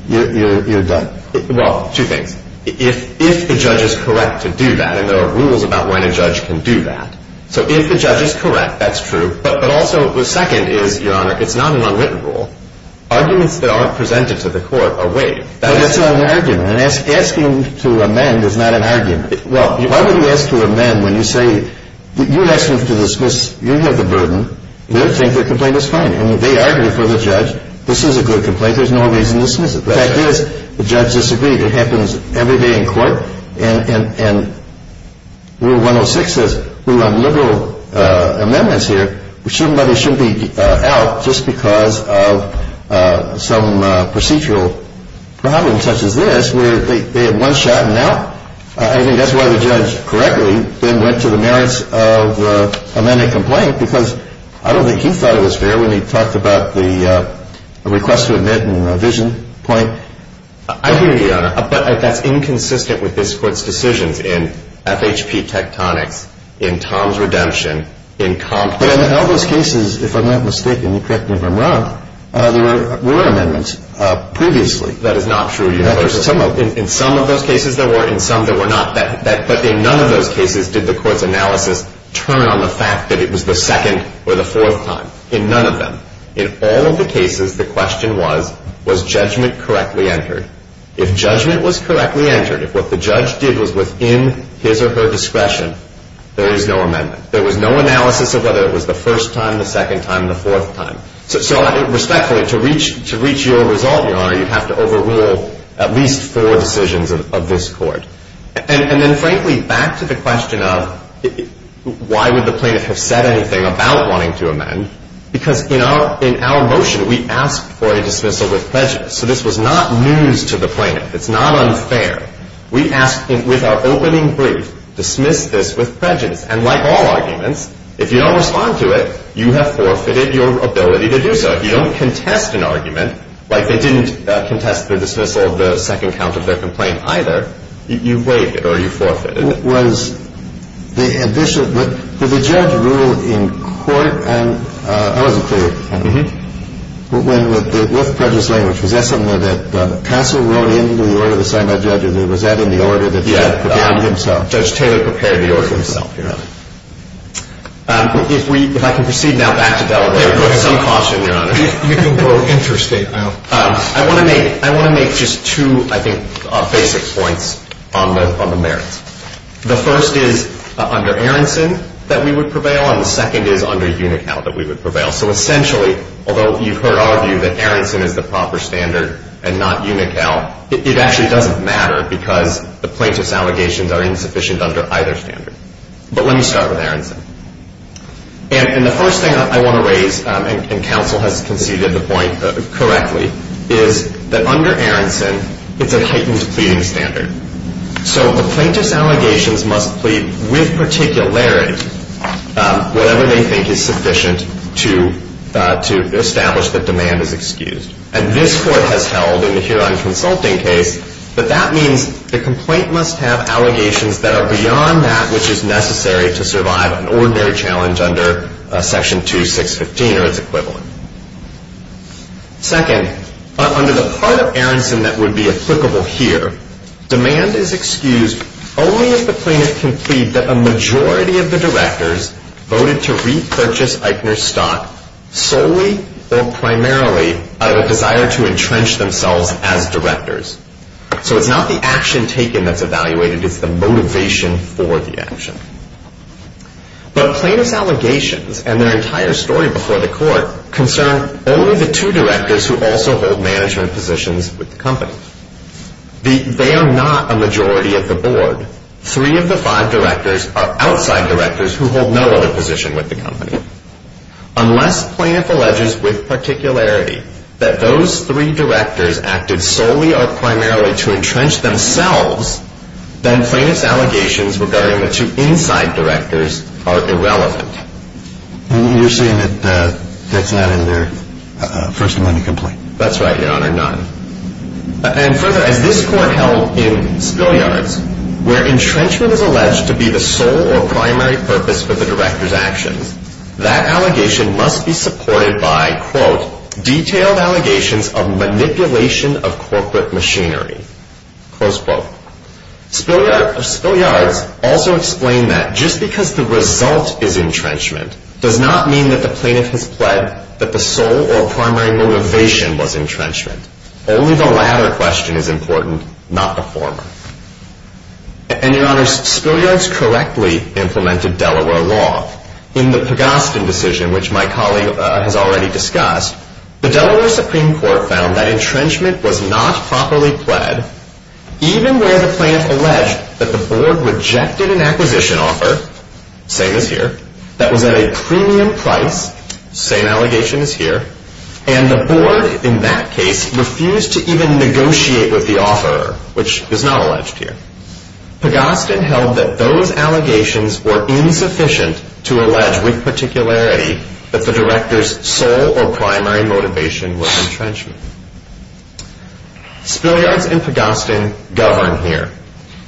you're done. Well, two things. If the judge is correct to do that, and there are rules about when a judge can do that. So if the judge is correct, that's true. But also the second is, Your Honor, it's not an unwritten rule. Arguments that aren't presented to the court are waived. But that's not an argument. And asking to amend is not an argument. Well, why would you ask to amend when you say you asked him to dismiss, you have the burden, you think the complaint is fine. And they argue for the judge, this is a good complaint, there's no reason to dismiss it. The fact is, the judge disagreed. It happens every day in court. And Rule 106 says we want liberal amendments here. Somebody shouldn't be out just because of some procedural problem such as this where they have one shot and out. I think that's why the judge correctly then went to the merits of the amended complaint because I don't think he thought it was fair when he talked about the request to admit and the revision point. I hear you, Your Honor. But that's inconsistent with this Court's decisions in FHP Tectonics, in Tom's Redemption, in Compton. But in all those cases, if I'm not mistaken, you correct me if I'm wrong, there were amendments previously. That is not true. In some of those cases there were, in some there were not. But in none of those cases did the Court's analysis turn on the fact that it was the second or the fourth time. In none of them. In all of the cases, the question was, was judgment correctly entered? If judgment was correctly entered, if what the judge did was within his or her discretion, there is no amendment. There was no analysis of whether it was the first time, the second time, the fourth time. So respectfully, to reach your result, Your Honor, you have to overrule at least four decisions of this Court. And then, frankly, back to the question of why would the plaintiff have said anything about wanting to amend, because in our motion we asked for a dismissal with prejudice. So this was not news to the plaintiff. It's not unfair. We asked with our opening brief, dismiss this with prejudice. And like all arguments, if you don't respond to it, you have forfeited your ability to do so. But if you don't contest an argument, like they didn't contest the dismissal of the second count of their complaint either, you waived it or you forfeited it. Was the ambition, did the judge rule in court? I wasn't clear. Mm-hmm. When the with prejudice language, was that something that counsel wrote into the order assigned by the judge, or was that in the order that he had prepared himself? Judge Taylor prepared the order himself, Your Honor. If we, if I can proceed now back to Delaware. Some caution, Your Honor. You can go interstate. I want to make just two, I think, basic points on the merits. The first is under Aronson that we would prevail, and the second is under Unical that we would prevail. So essentially, although you've heard our view that Aronson is the proper standard and not Unical, it actually doesn't matter because the plaintiff's allegations are insufficient under either standard. But let me start with Aronson. And the first thing I want to raise, and counsel has conceded the point correctly, is that under Aronson, it's a heightened pleading standard. So a plaintiff's allegations must plead with particularity whatever they think is sufficient to establish that demand is excused. And this court has held, and here I'm consulting case, but that means the complaint must have allegations that are beyond that which is necessary to survive an ordinary challenge under Section 2615 or its equivalent. Second, under the part of Aronson that would be applicable here, demand is excused only if the plaintiff can plead that a majority of the directors voted to repurchase Eichner's stock solely or primarily out of a desire to entrench themselves as directors. So it's not the action taken that's evaluated. It's the motivation for the action. But plaintiff's allegations and their entire story before the court concern only the two directors who also hold management positions with the company. They are not a majority of the board. Three of the five directors are outside directors who hold no other position with the company. Unless plaintiff alleges with particularity that those three directors acted solely or primarily to entrench themselves, then plaintiff's allegations regarding the two inside directors are irrelevant. And you're saying that that's not in their First Amendment complaint? That's right, Your Honor, none. And further, as this court held in Spilyards, where entrenchment is alleged to be the sole or primary purpose for the director's actions, that allegation must be supported by, quote, detailed allegations of manipulation of corporate machinery, close quote. Spilyards also explained that just because the result is entrenchment does not mean that the plaintiff has pled that the sole or primary motivation was entrenchment. Only the latter question is important, not the former. And, Your Honor, Spilyards correctly implemented Delaware law. In the Pugastin decision, which my colleague has already discussed, the Delaware Supreme Court found that entrenchment was not properly pled, even where the plaintiff alleged that the board rejected an acquisition offer, same as here, that was at a premium price, same allegation as here, and the board, in that case, refused to even negotiate with the offeror, which is not alleged here. Pugastin held that those allegations were insufficient to allege with particularity that the director's sole or primary motivation was entrenchment. Spilyards and Pugastin govern here.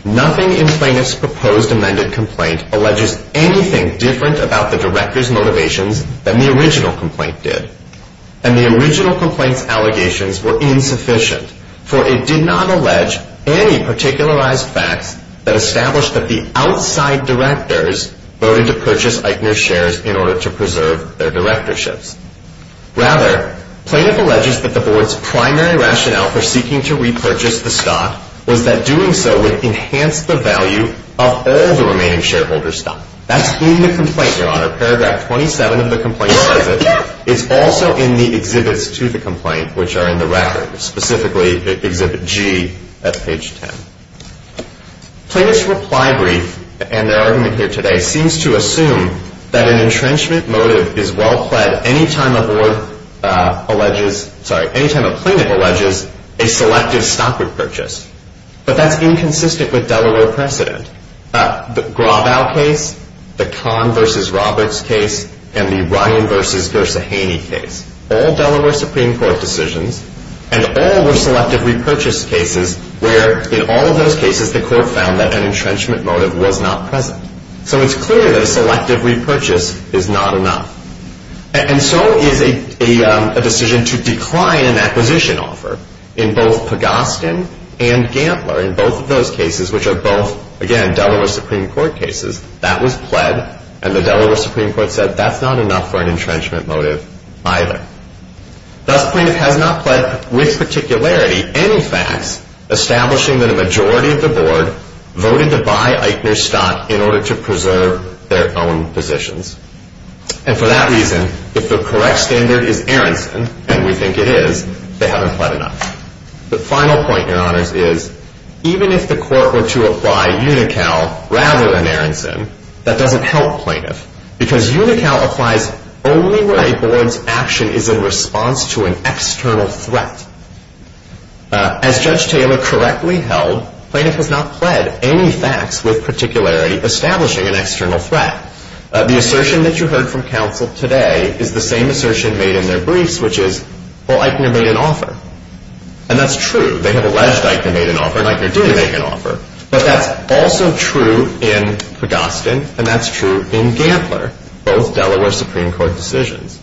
Nothing in plaintiff's proposed amended complaint alleges anything different about the director's motivations than the original complaint did. And the original complaint's allegations were insufficient, for it did not allege any particularized facts that established that the outside directors voted to purchase Eichner shares in order to preserve their directorships. Rather, plaintiff alleges that the board's primary rationale for seeking to repurchase the stock was that doing so would enhance the value of all the remaining shareholder stock. That's in the complaint, Your Honor. Paragraph 27 of the complaint says it. It's also in the exhibits to the complaint, which are in the record, specifically Exhibit G at page 10. Plaintiff's reply brief, and their argument here today, seems to assume that an entrenchment motive is well pled any time a board alleges sorry, any time a plaintiff alleges a selective stock repurchase. But that's inconsistent with Delaware precedent. The Graubau case, the Kahn v. Roberts case, and the Ryan v. Gersahaney case, all Delaware Supreme Court decisions, and all were selective repurchase cases where, in all of those cases, the court found that an entrenchment motive was not present. So it's clear that a selective repurchase is not enough. And so is a decision to decline an acquisition offer in both Pagostin and Gantler, in both of those cases, which are both, again, Delaware Supreme Court cases. That was pled, and the Delaware Supreme Court said that's not enough for an entrenchment motive either. Thus, plaintiff has not pled with particularity any facts establishing that a majority of the board voted to buy Eichner stock in order to preserve their own positions. And for that reason, if the correct standard is Aronson, and we think it is, they haven't pled enough. The final point, Your Honors, is even if the court were to apply Unical rather than Aronson, that doesn't help plaintiff, because Unical applies only where a board's action is in response to an external threat. As Judge Taylor correctly held, plaintiff has not pled any facts with particularity establishing an external threat. The assertion that you heard from counsel today is the same assertion made in their briefs, which is, well, Eichner made an offer. And that's true. They have alleged Eichner made an offer, and Eichner did make an offer. But that's also true in Pagostin, and that's true in Gantler, both Delaware Supreme Court decisions.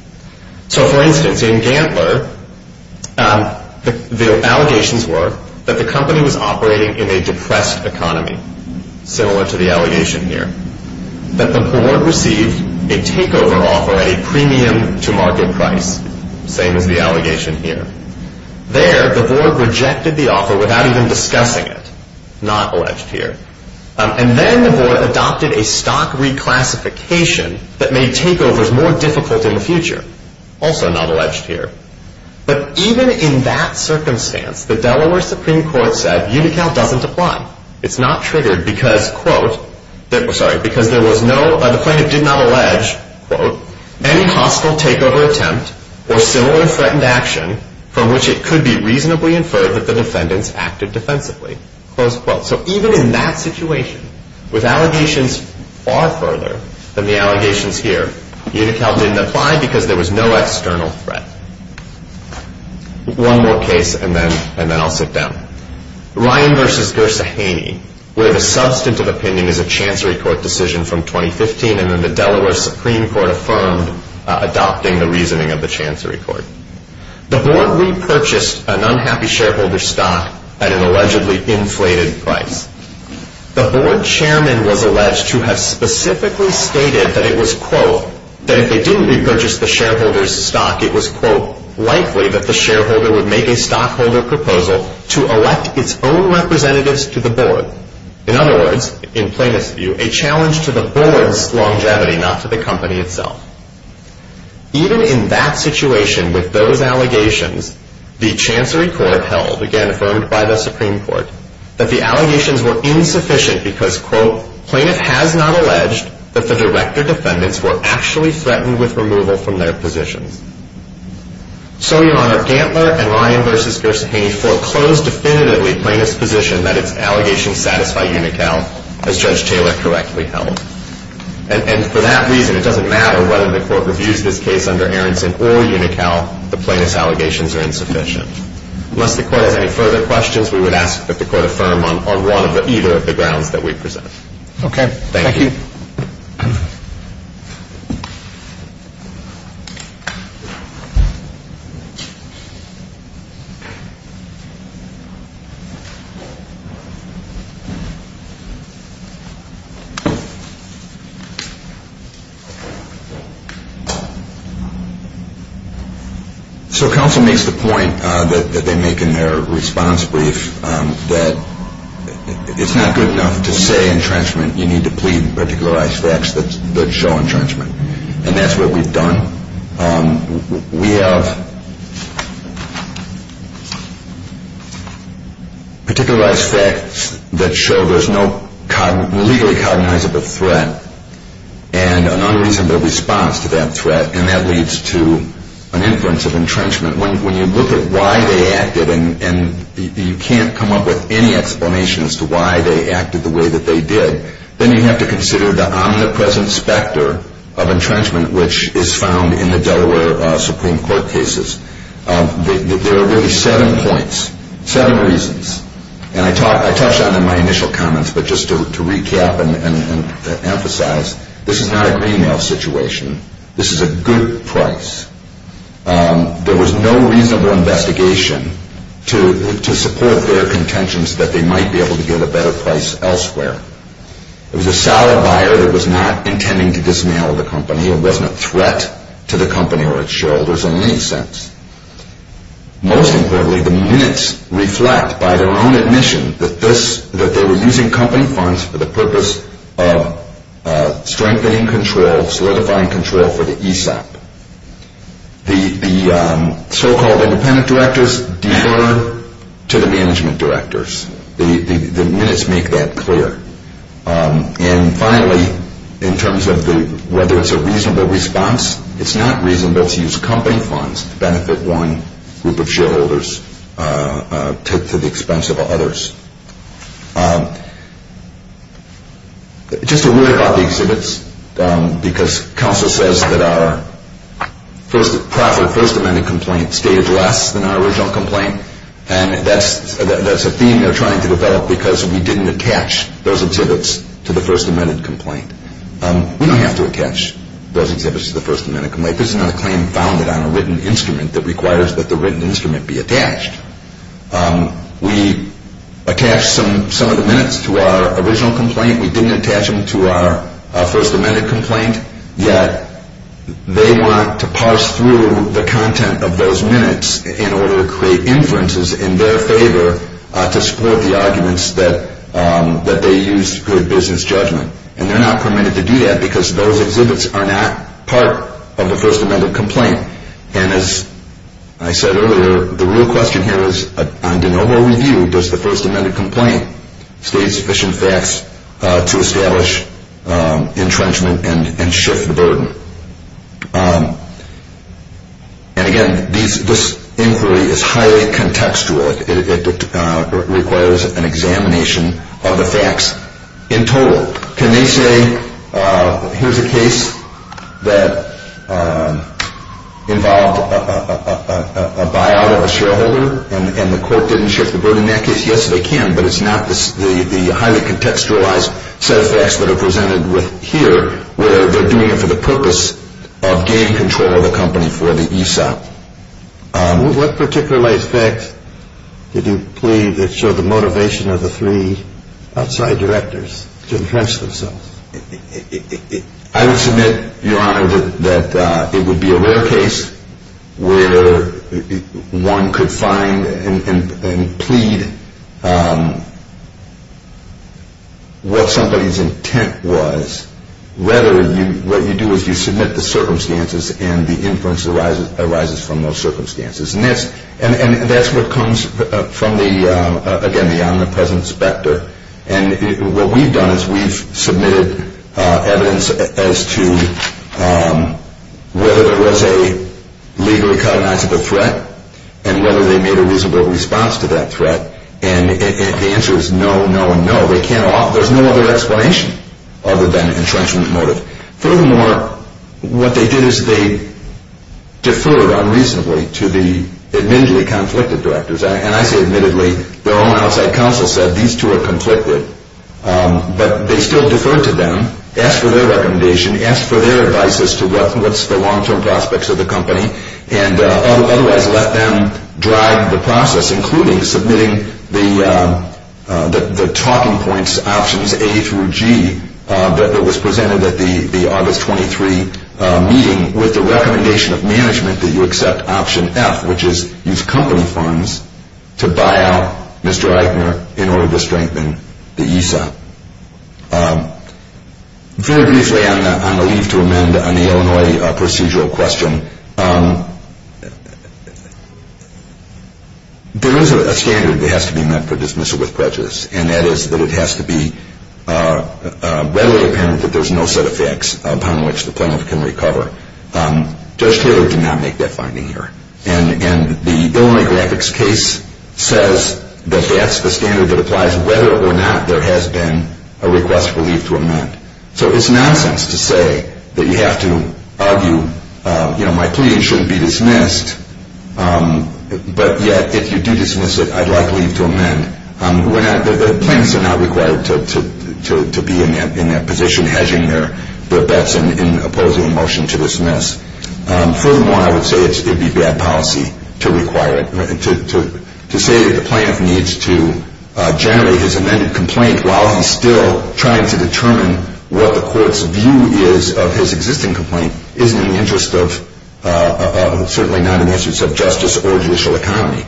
So, for instance, in Gantler, the allegations were that the company was operating in a depressed economy, similar to the allegation here, that the board received a takeover offer at a premium to market price, same as the allegation here. There, the board rejected the offer without even discussing it. Not alleged here. And then the board adopted a stock reclassification that made takeovers more difficult in the future. Also not alleged here. But even in that circumstance, the Delaware Supreme Court said Unical doesn't apply. It's not triggered because, quote, sorry, because there was no, the plaintiff did not allege, quote, any hostile takeover attempt or similar threatened action from which it could be reasonably inferred that the defendants acted defensively. Close quote. So even in that situation, with allegations far further than the allegations here, Unical didn't apply because there was no external threat. One more case and then I'll sit down. Ryan v. Gersahaney, where the substantive opinion is a Chancery Court decision from 2015 and then the Delaware Supreme Court affirmed adopting the reasoning of the Chancery Court. The board repurchased an unhappy shareholder stock at an allegedly inflated price. The board chairman was alleged to have specifically stated that it was, quote, that if they didn't repurchase the shareholder's stock, it was, quote, likely that the shareholder would make a stockholder proposal to elect its own representatives to the board. In other words, in plaintiff's view, a challenge to the board's longevity, not to the company itself. Even in that situation, with those allegations, the Chancery Court held, again affirmed by the Supreme Court, that the allegations were insufficient because, quote, plaintiff has not alleged that the director defendants were actually threatened with removal from their positions. So, Your Honor, Gantler and Ryan v. Gersahaney foreclosed definitively plaintiff's position that its allegations satisfy Unical, as Judge Taylor correctly held. And for that reason, it doesn't matter whether the court reviews this case under Aronson or Unical, the plaintiff's allegations are insufficient. Unless the court has any further questions, we would ask that the court affirm on either of the grounds that we present. Okay. Thank you. Thank you. So counsel makes the point that they make in their response brief, that it's not good enough to say entrenchment. You need to plead particularized facts that show entrenchment. And that's what we've done. We have particularized facts that show there's no legally cognizable threat, and an unreasonable response to that threat, and that leads to an influence of entrenchment. When you look at why they acted, and you can't come up with any explanation as to why they acted the way that they did, then you have to consider the omnipresent specter of entrenchment, which is found in the Delaware Supreme Court cases. There are really seven points, seven reasons. And I touched on them in my initial comments, but just to recap and emphasize, this is not a greenmail situation. This is a good price. There was no reasonable investigation to support their contention that they might be able to get a better price elsewhere. It was a solid buyer that was not intending to dismail the company. It wasn't a threat to the company or its shareholders in any sense. Most importantly, the minutes reflect by their own admission that this, that they were using company funds for the purpose of strengthening control, solidifying control for the ESOP. The so-called independent directors defer to the management directors. The minutes make that clear. And finally, in terms of whether it's a reasonable response, it's not reasonable to use company funds to benefit one group of shareholders to the expense of others. Just a word about the exhibits, because counsel says that our proffered First Amendment complaint staged less than our original complaint. And that's a theme they're trying to develop because we didn't attach those exhibits to the First Amendment complaint. We don't have to attach those exhibits to the First Amendment complaint. This is not a claim founded on a written instrument that requires that the written instrument be attached. We attached some of the minutes to our original complaint. We didn't attach them to our First Amendment complaint. Yet they want to parse through the content of those minutes in order to create inferences in their favor to support the arguments that they use to create business judgment. And they're not permitted to do that because those exhibits are not part of the First Amendment complaint. And as I said earlier, the real question here is, on de novo review, does the First Amendment complaint stage sufficient facts to establish entrenchment and shift the burden? And again, this inquiry is highly contextual. It requires an examination of the facts in total. So can they say, here's a case that involved a buyout of a shareholder and the court didn't shift the burden? In that case, yes, they can, but it's not the highly contextualized set of facts that are presented here where they're doing it for the purpose of gaining control of the company for the ESOP. What particularized facts did you plead that showed the motivation of the three outside directors to entrench themselves? I would submit, Your Honor, that it would be a rare case where one could find and plead what somebody's intent was. Rather, what you do is you submit the circumstances and the inference arises from those circumstances. And that's what comes from, again, the omnipresent specter. And what we've done is we've submitted evidence as to whether there was a legally cognizable threat and whether they made a reasonable response to that threat. And the answer is no, no, and no. There's no other explanation other than entrenchment motive. Furthermore, what they did is they deferred unreasonably to the admittedly conflicted directors. And I say admittedly. Their own outside counsel said these two are conflicted. But they still deferred to them, asked for their recommendation, asked for their advice as to what's the long-term prospects of the company and otherwise let them drive the process, including submitting the talking points options A through G that was presented at the August 23 meeting with the recommendation of management that you accept option F, which is use company funds to buy out Mr. Eichner in order to strengthen the ESA. Very briefly, I'm going to leave to amend an Illinois procedural question. There is a standard that has to be met for dismissal with prejudice, and that is that it has to be readily apparent that there's no set of facts upon which the plaintiff can recover. Judge Taylor did not make that finding here. And the Illinois graphics case says that that's the standard that applies whether or not there has been a request for leave to amend. So it's nonsense to say that you have to argue, you know, my plea shouldn't be dismissed, but yet if you do dismiss it, I'd like leave to amend. The plaintiffs are not required to be in that position hedging their bets in opposing a motion to dismiss. Furthermore, I would say it would be bad policy to require it. To say that the plaintiff needs to generate his amended complaint while he's still trying to determine what the court's view is of his existing complaint isn't in the interest of, certainly not in the interest of justice or judicial economy.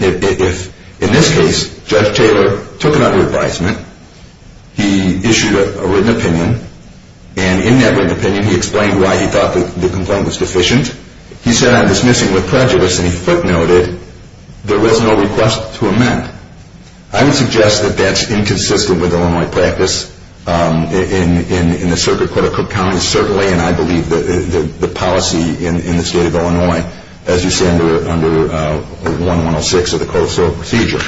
In this case, Judge Taylor took it under advisement. He issued a written opinion, and in that written opinion, he explained why he thought the complaint was deficient. He said I'm dismissing with prejudice, and he footnoted there was no request to amend. I would suggest that that's inconsistent with Illinois practice in the circuit court of Cook County, certainly, and I believe that the policy in the state of Illinois, as you say, under 1106 of the Coastal Procedure,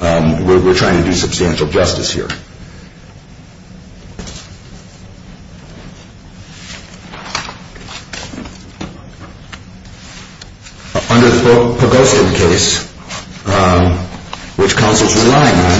we're trying to do substantial justice here. Under the Pogostin case, which counsel's relying on,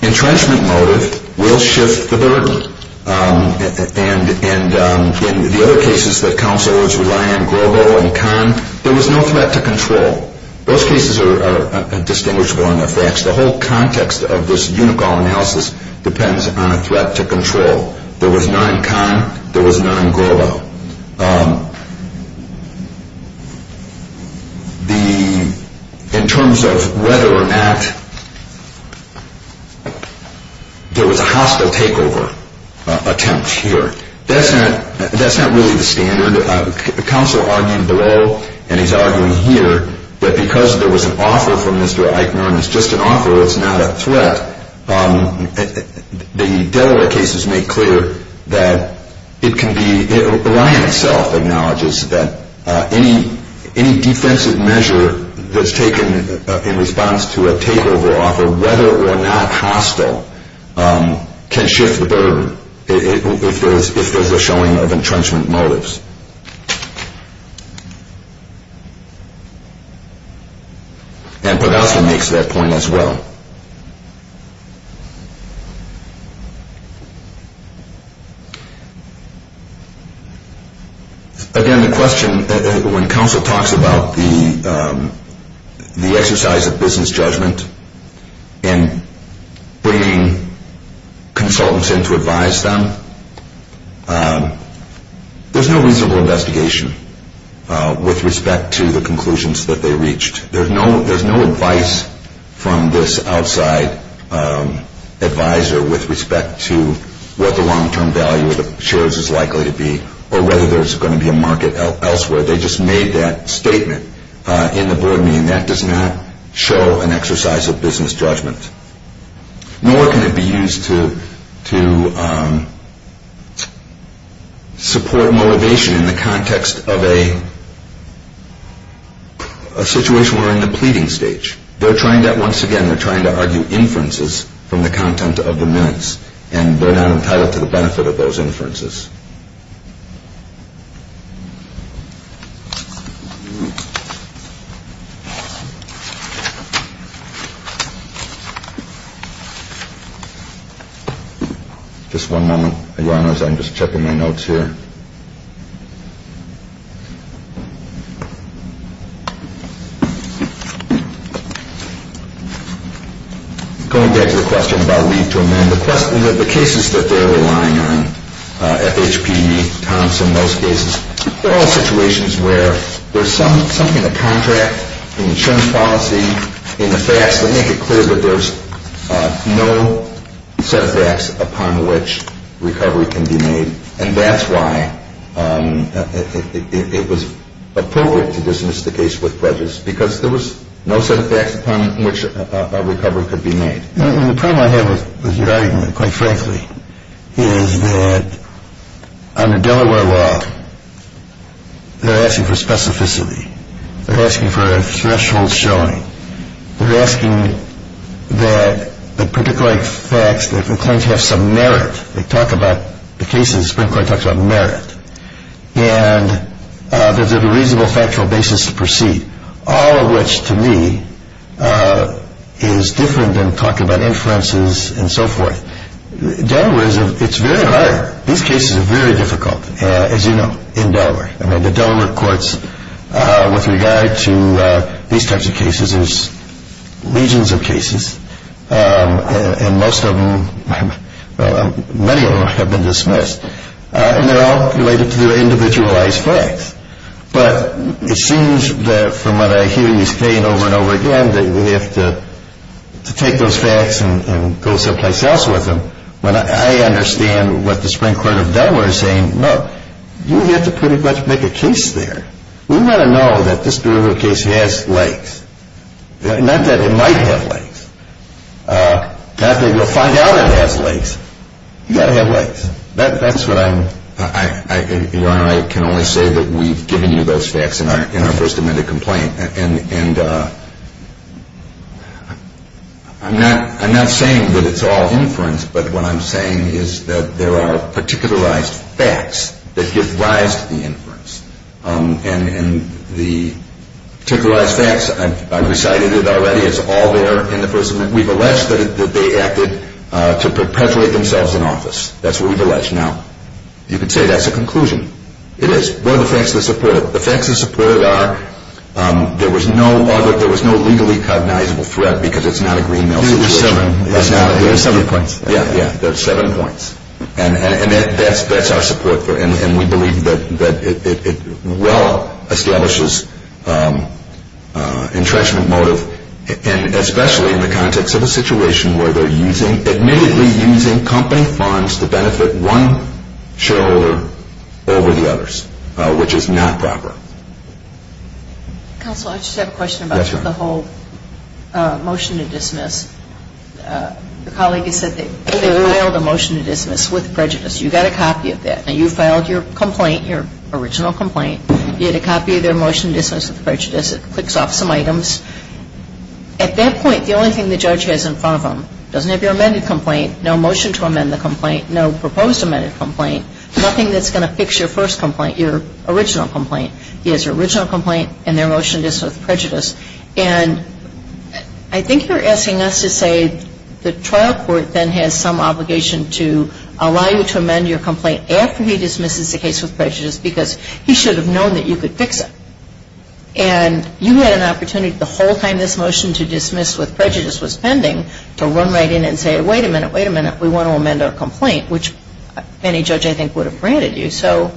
the entrenchment motive will shift the burden, and in the other cases that counselors rely on, Grobo and Kahn, there was no threat to control. Those cases are distinguishable enough facts. The whole context of this Unicole analysis depends on a threat to control. There was none in Kahn. There was none in Grobo. In terms of whether or not there was a hostile takeover attempt here, that's not really the standard. Counsel argued below, and he's arguing here, that because there was an offer from Mr. Eichner, and it's just an offer, it's not a threat, the Delaware cases make clear that it can be, the line itself acknowledges that any defensive measure that's taken in response to a takeover offer, whether or not hostile, can shift the burden if there's a showing of entrenchment motives. And Podolsky makes that point as well. Again, the question, when counsel talks about the exercise of business judgment in bringing consultants in to advise them, there's no reasonable investigation with respect to the conclusions that they reached. There's no advice from this outside advisor with respect to what the long-term value of the shares is likely to be, or whether there's going to be a market elsewhere. They just made that statement in the board meeting. That does not show an exercise of business judgment. Nor can it be used to support motivation in the context of a situation where we're in the pleading stage. They're trying to, once again, they're trying to argue inferences from the content of the minutes, and they're not entitled to the benefit of those inferences. Just one moment. I'm just checking my notes here. Going back to the question about leave to amend, the cases that they're relying on, FHP, Thompson, those cases, they're all situations where there's something in the contract, in the insurance policy, in the facts that make it clear that there's no set of facts upon which recovery can be made. And that's why it was appropriate to dismiss the case with prejudice, because there was no set of facts upon which a recovery could be made. The problem I have with your argument, quite frankly, is that under Delaware law, they're asking for specificity. They're asking for a threshold showing. They're asking that the particular facts that they claim to have some merit, they talk about the cases, the Supreme Court talks about merit, and that there's a reasonable factual basis to proceed, all of which, to me, is different than talking about inferences and so forth. Delaware is a, it's very hard. These cases are very difficult, as you know, in Delaware. I mean, the Delaware courts, with regard to these types of cases, there's legions of cases, and most of them, many of them have been dismissed. And they're all related to individualized facts. But it seems that, from what I hear you saying over and over again, that we have to take those facts and go someplace else with them, you have to pretty much make a case there. We want to know that this particular case has legs. Not that it might have legs. Not that you'll find out it has legs. You've got to have legs. That's what I'm... Your Honor, I can only say that we've given you those facts in our first amendment complaint. And I'm not saying that it's all inference, but what I'm saying is that there are particularized facts that give rise to the inference. And the particularized facts, I've recited it already, it's all there in the first amendment. We've alleged that they acted to perpetuate themselves in office. That's what we've alleged. Now, you could say that's a conclusion. It is. What are the facts that support it? The facts that support it are there was no other, there was no legally cognizable threat, because it's not a green-mail situation. There are seven points. Yeah, there are seven points. And that's our support for it. And we believe that it well establishes entrenchment motive, and especially in the context of a situation where they're using, admittedly using company funds to benefit one shareholder over the others, which is not proper. Counsel, I just have a question about the whole motion to dismiss. The colleague has said that they filed a motion to dismiss with prejudice. You got a copy of that. Now, you filed your complaint, your original complaint. You had a copy of their motion to dismiss with prejudice. It clicks off some items. At that point, the only thing the judge has in front of them doesn't have your amended complaint, no motion to amend the complaint, no proposed amended complaint, nothing that's going to fix your first complaint, your original complaint. He has your original complaint and their motion to dismiss with prejudice. And I think you're asking us to say the trial court then has some obligation to allow you to amend your complaint after he dismisses the case with prejudice, because he should have known that you could fix it. And you had an opportunity the whole time this motion to dismiss with prejudice was pending to run right in and say, wait a minute, wait a minute, we want to amend our complaint, which any judge, I think, would have granted you. So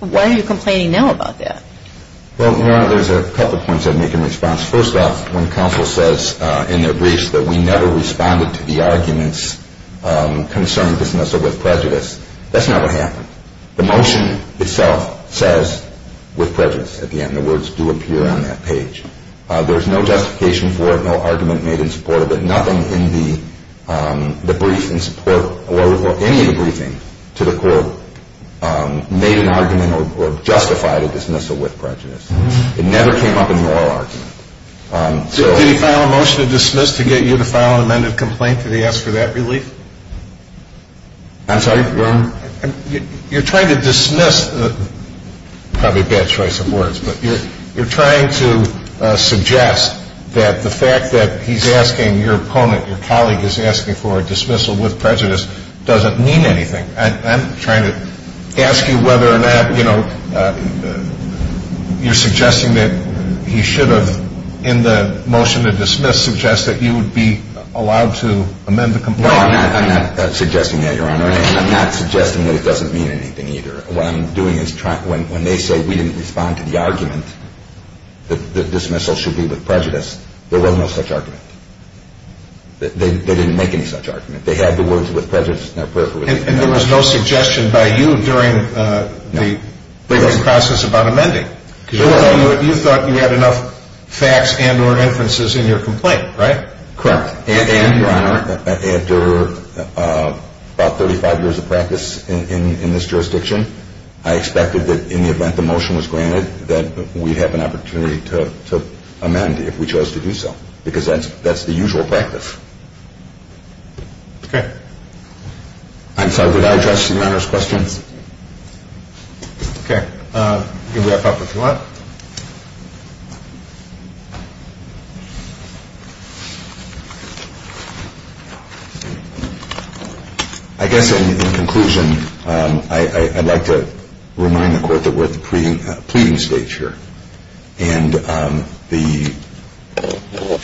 why are you complaining now about that? Well, Your Honor, there's a couple points I'd make in response. First off, when counsel says in their briefs that we never responded to the arguments concerning dismissal with prejudice, that's not what happened. The motion itself says with prejudice at the end. The words do appear on that page. There's no justification for it, no argument made in support of it, nothing in the brief in support or any of the briefing to the court made an argument or justified a dismissal with prejudice. It never came up in the oral argument. Did he file a motion to dismiss to get you to file an amended complaint? Did he ask for that relief? I'm sorry, Your Honor? You're trying to dismiss, probably a bad choice of words, but you're trying to suggest that the fact that he's asking your opponent, your colleague is asking for a dismissal with prejudice doesn't mean anything. I'm trying to ask you whether or not, you know, you're suggesting that he should have, in the motion to dismiss, suggest that you would be allowed to amend the complaint. No, I'm not suggesting that, Your Honor. I'm not suggesting that it doesn't mean anything either. What I'm doing is when they say we didn't respond to the argument that dismissal should be with prejudice, there was no such argument. They didn't make any such argument. They had the words with prejudice in their periphery. And there was no suggestion by you during the process about amending? You thought you had enough facts and or inferences in your complaint, right? Correct. And, Your Honor, after about 35 years of practice in this jurisdiction, I expected that in the event the motion was granted that we'd have an opportunity to amend if we chose to do so because that's the usual practice. Okay. I'm sorry, would I address Your Honor's questions? Okay. You can wrap up if you want. I guess in conclusion, I'd like to remind the Court that we're at the pleading stage here. And the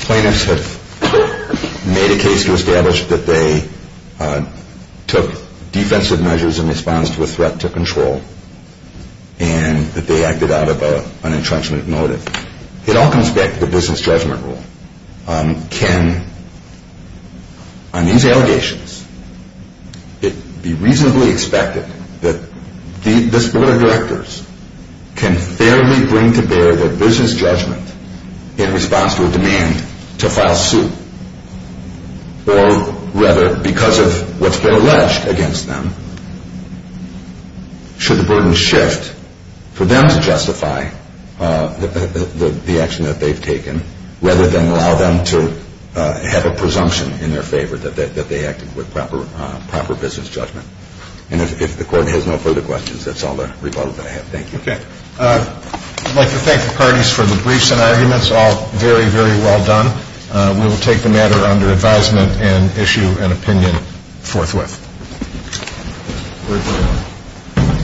plaintiffs have made a case to establish that they took defensive measures in response to a threat to control and that they acted out of an entrenchment motive. It all comes back to the business judgment rule. Can, on these allegations, it be reasonably expected that this Board of Directors can fairly bring to bear their business judgment in response to a demand to file suit? Or rather, because of what's been alleged against them, should the burden shift for them to justify the action that they've taken rather than allow them to have a presumption in their favor that they acted with proper business judgment? And if the Court has no further questions, that's all the rebuttal that I have. Thank you. Okay. I'd like to thank the parties for the briefs and arguments, all very, very well done. We will take the matter under advisement and issue an opinion forthwith. We're adjourned.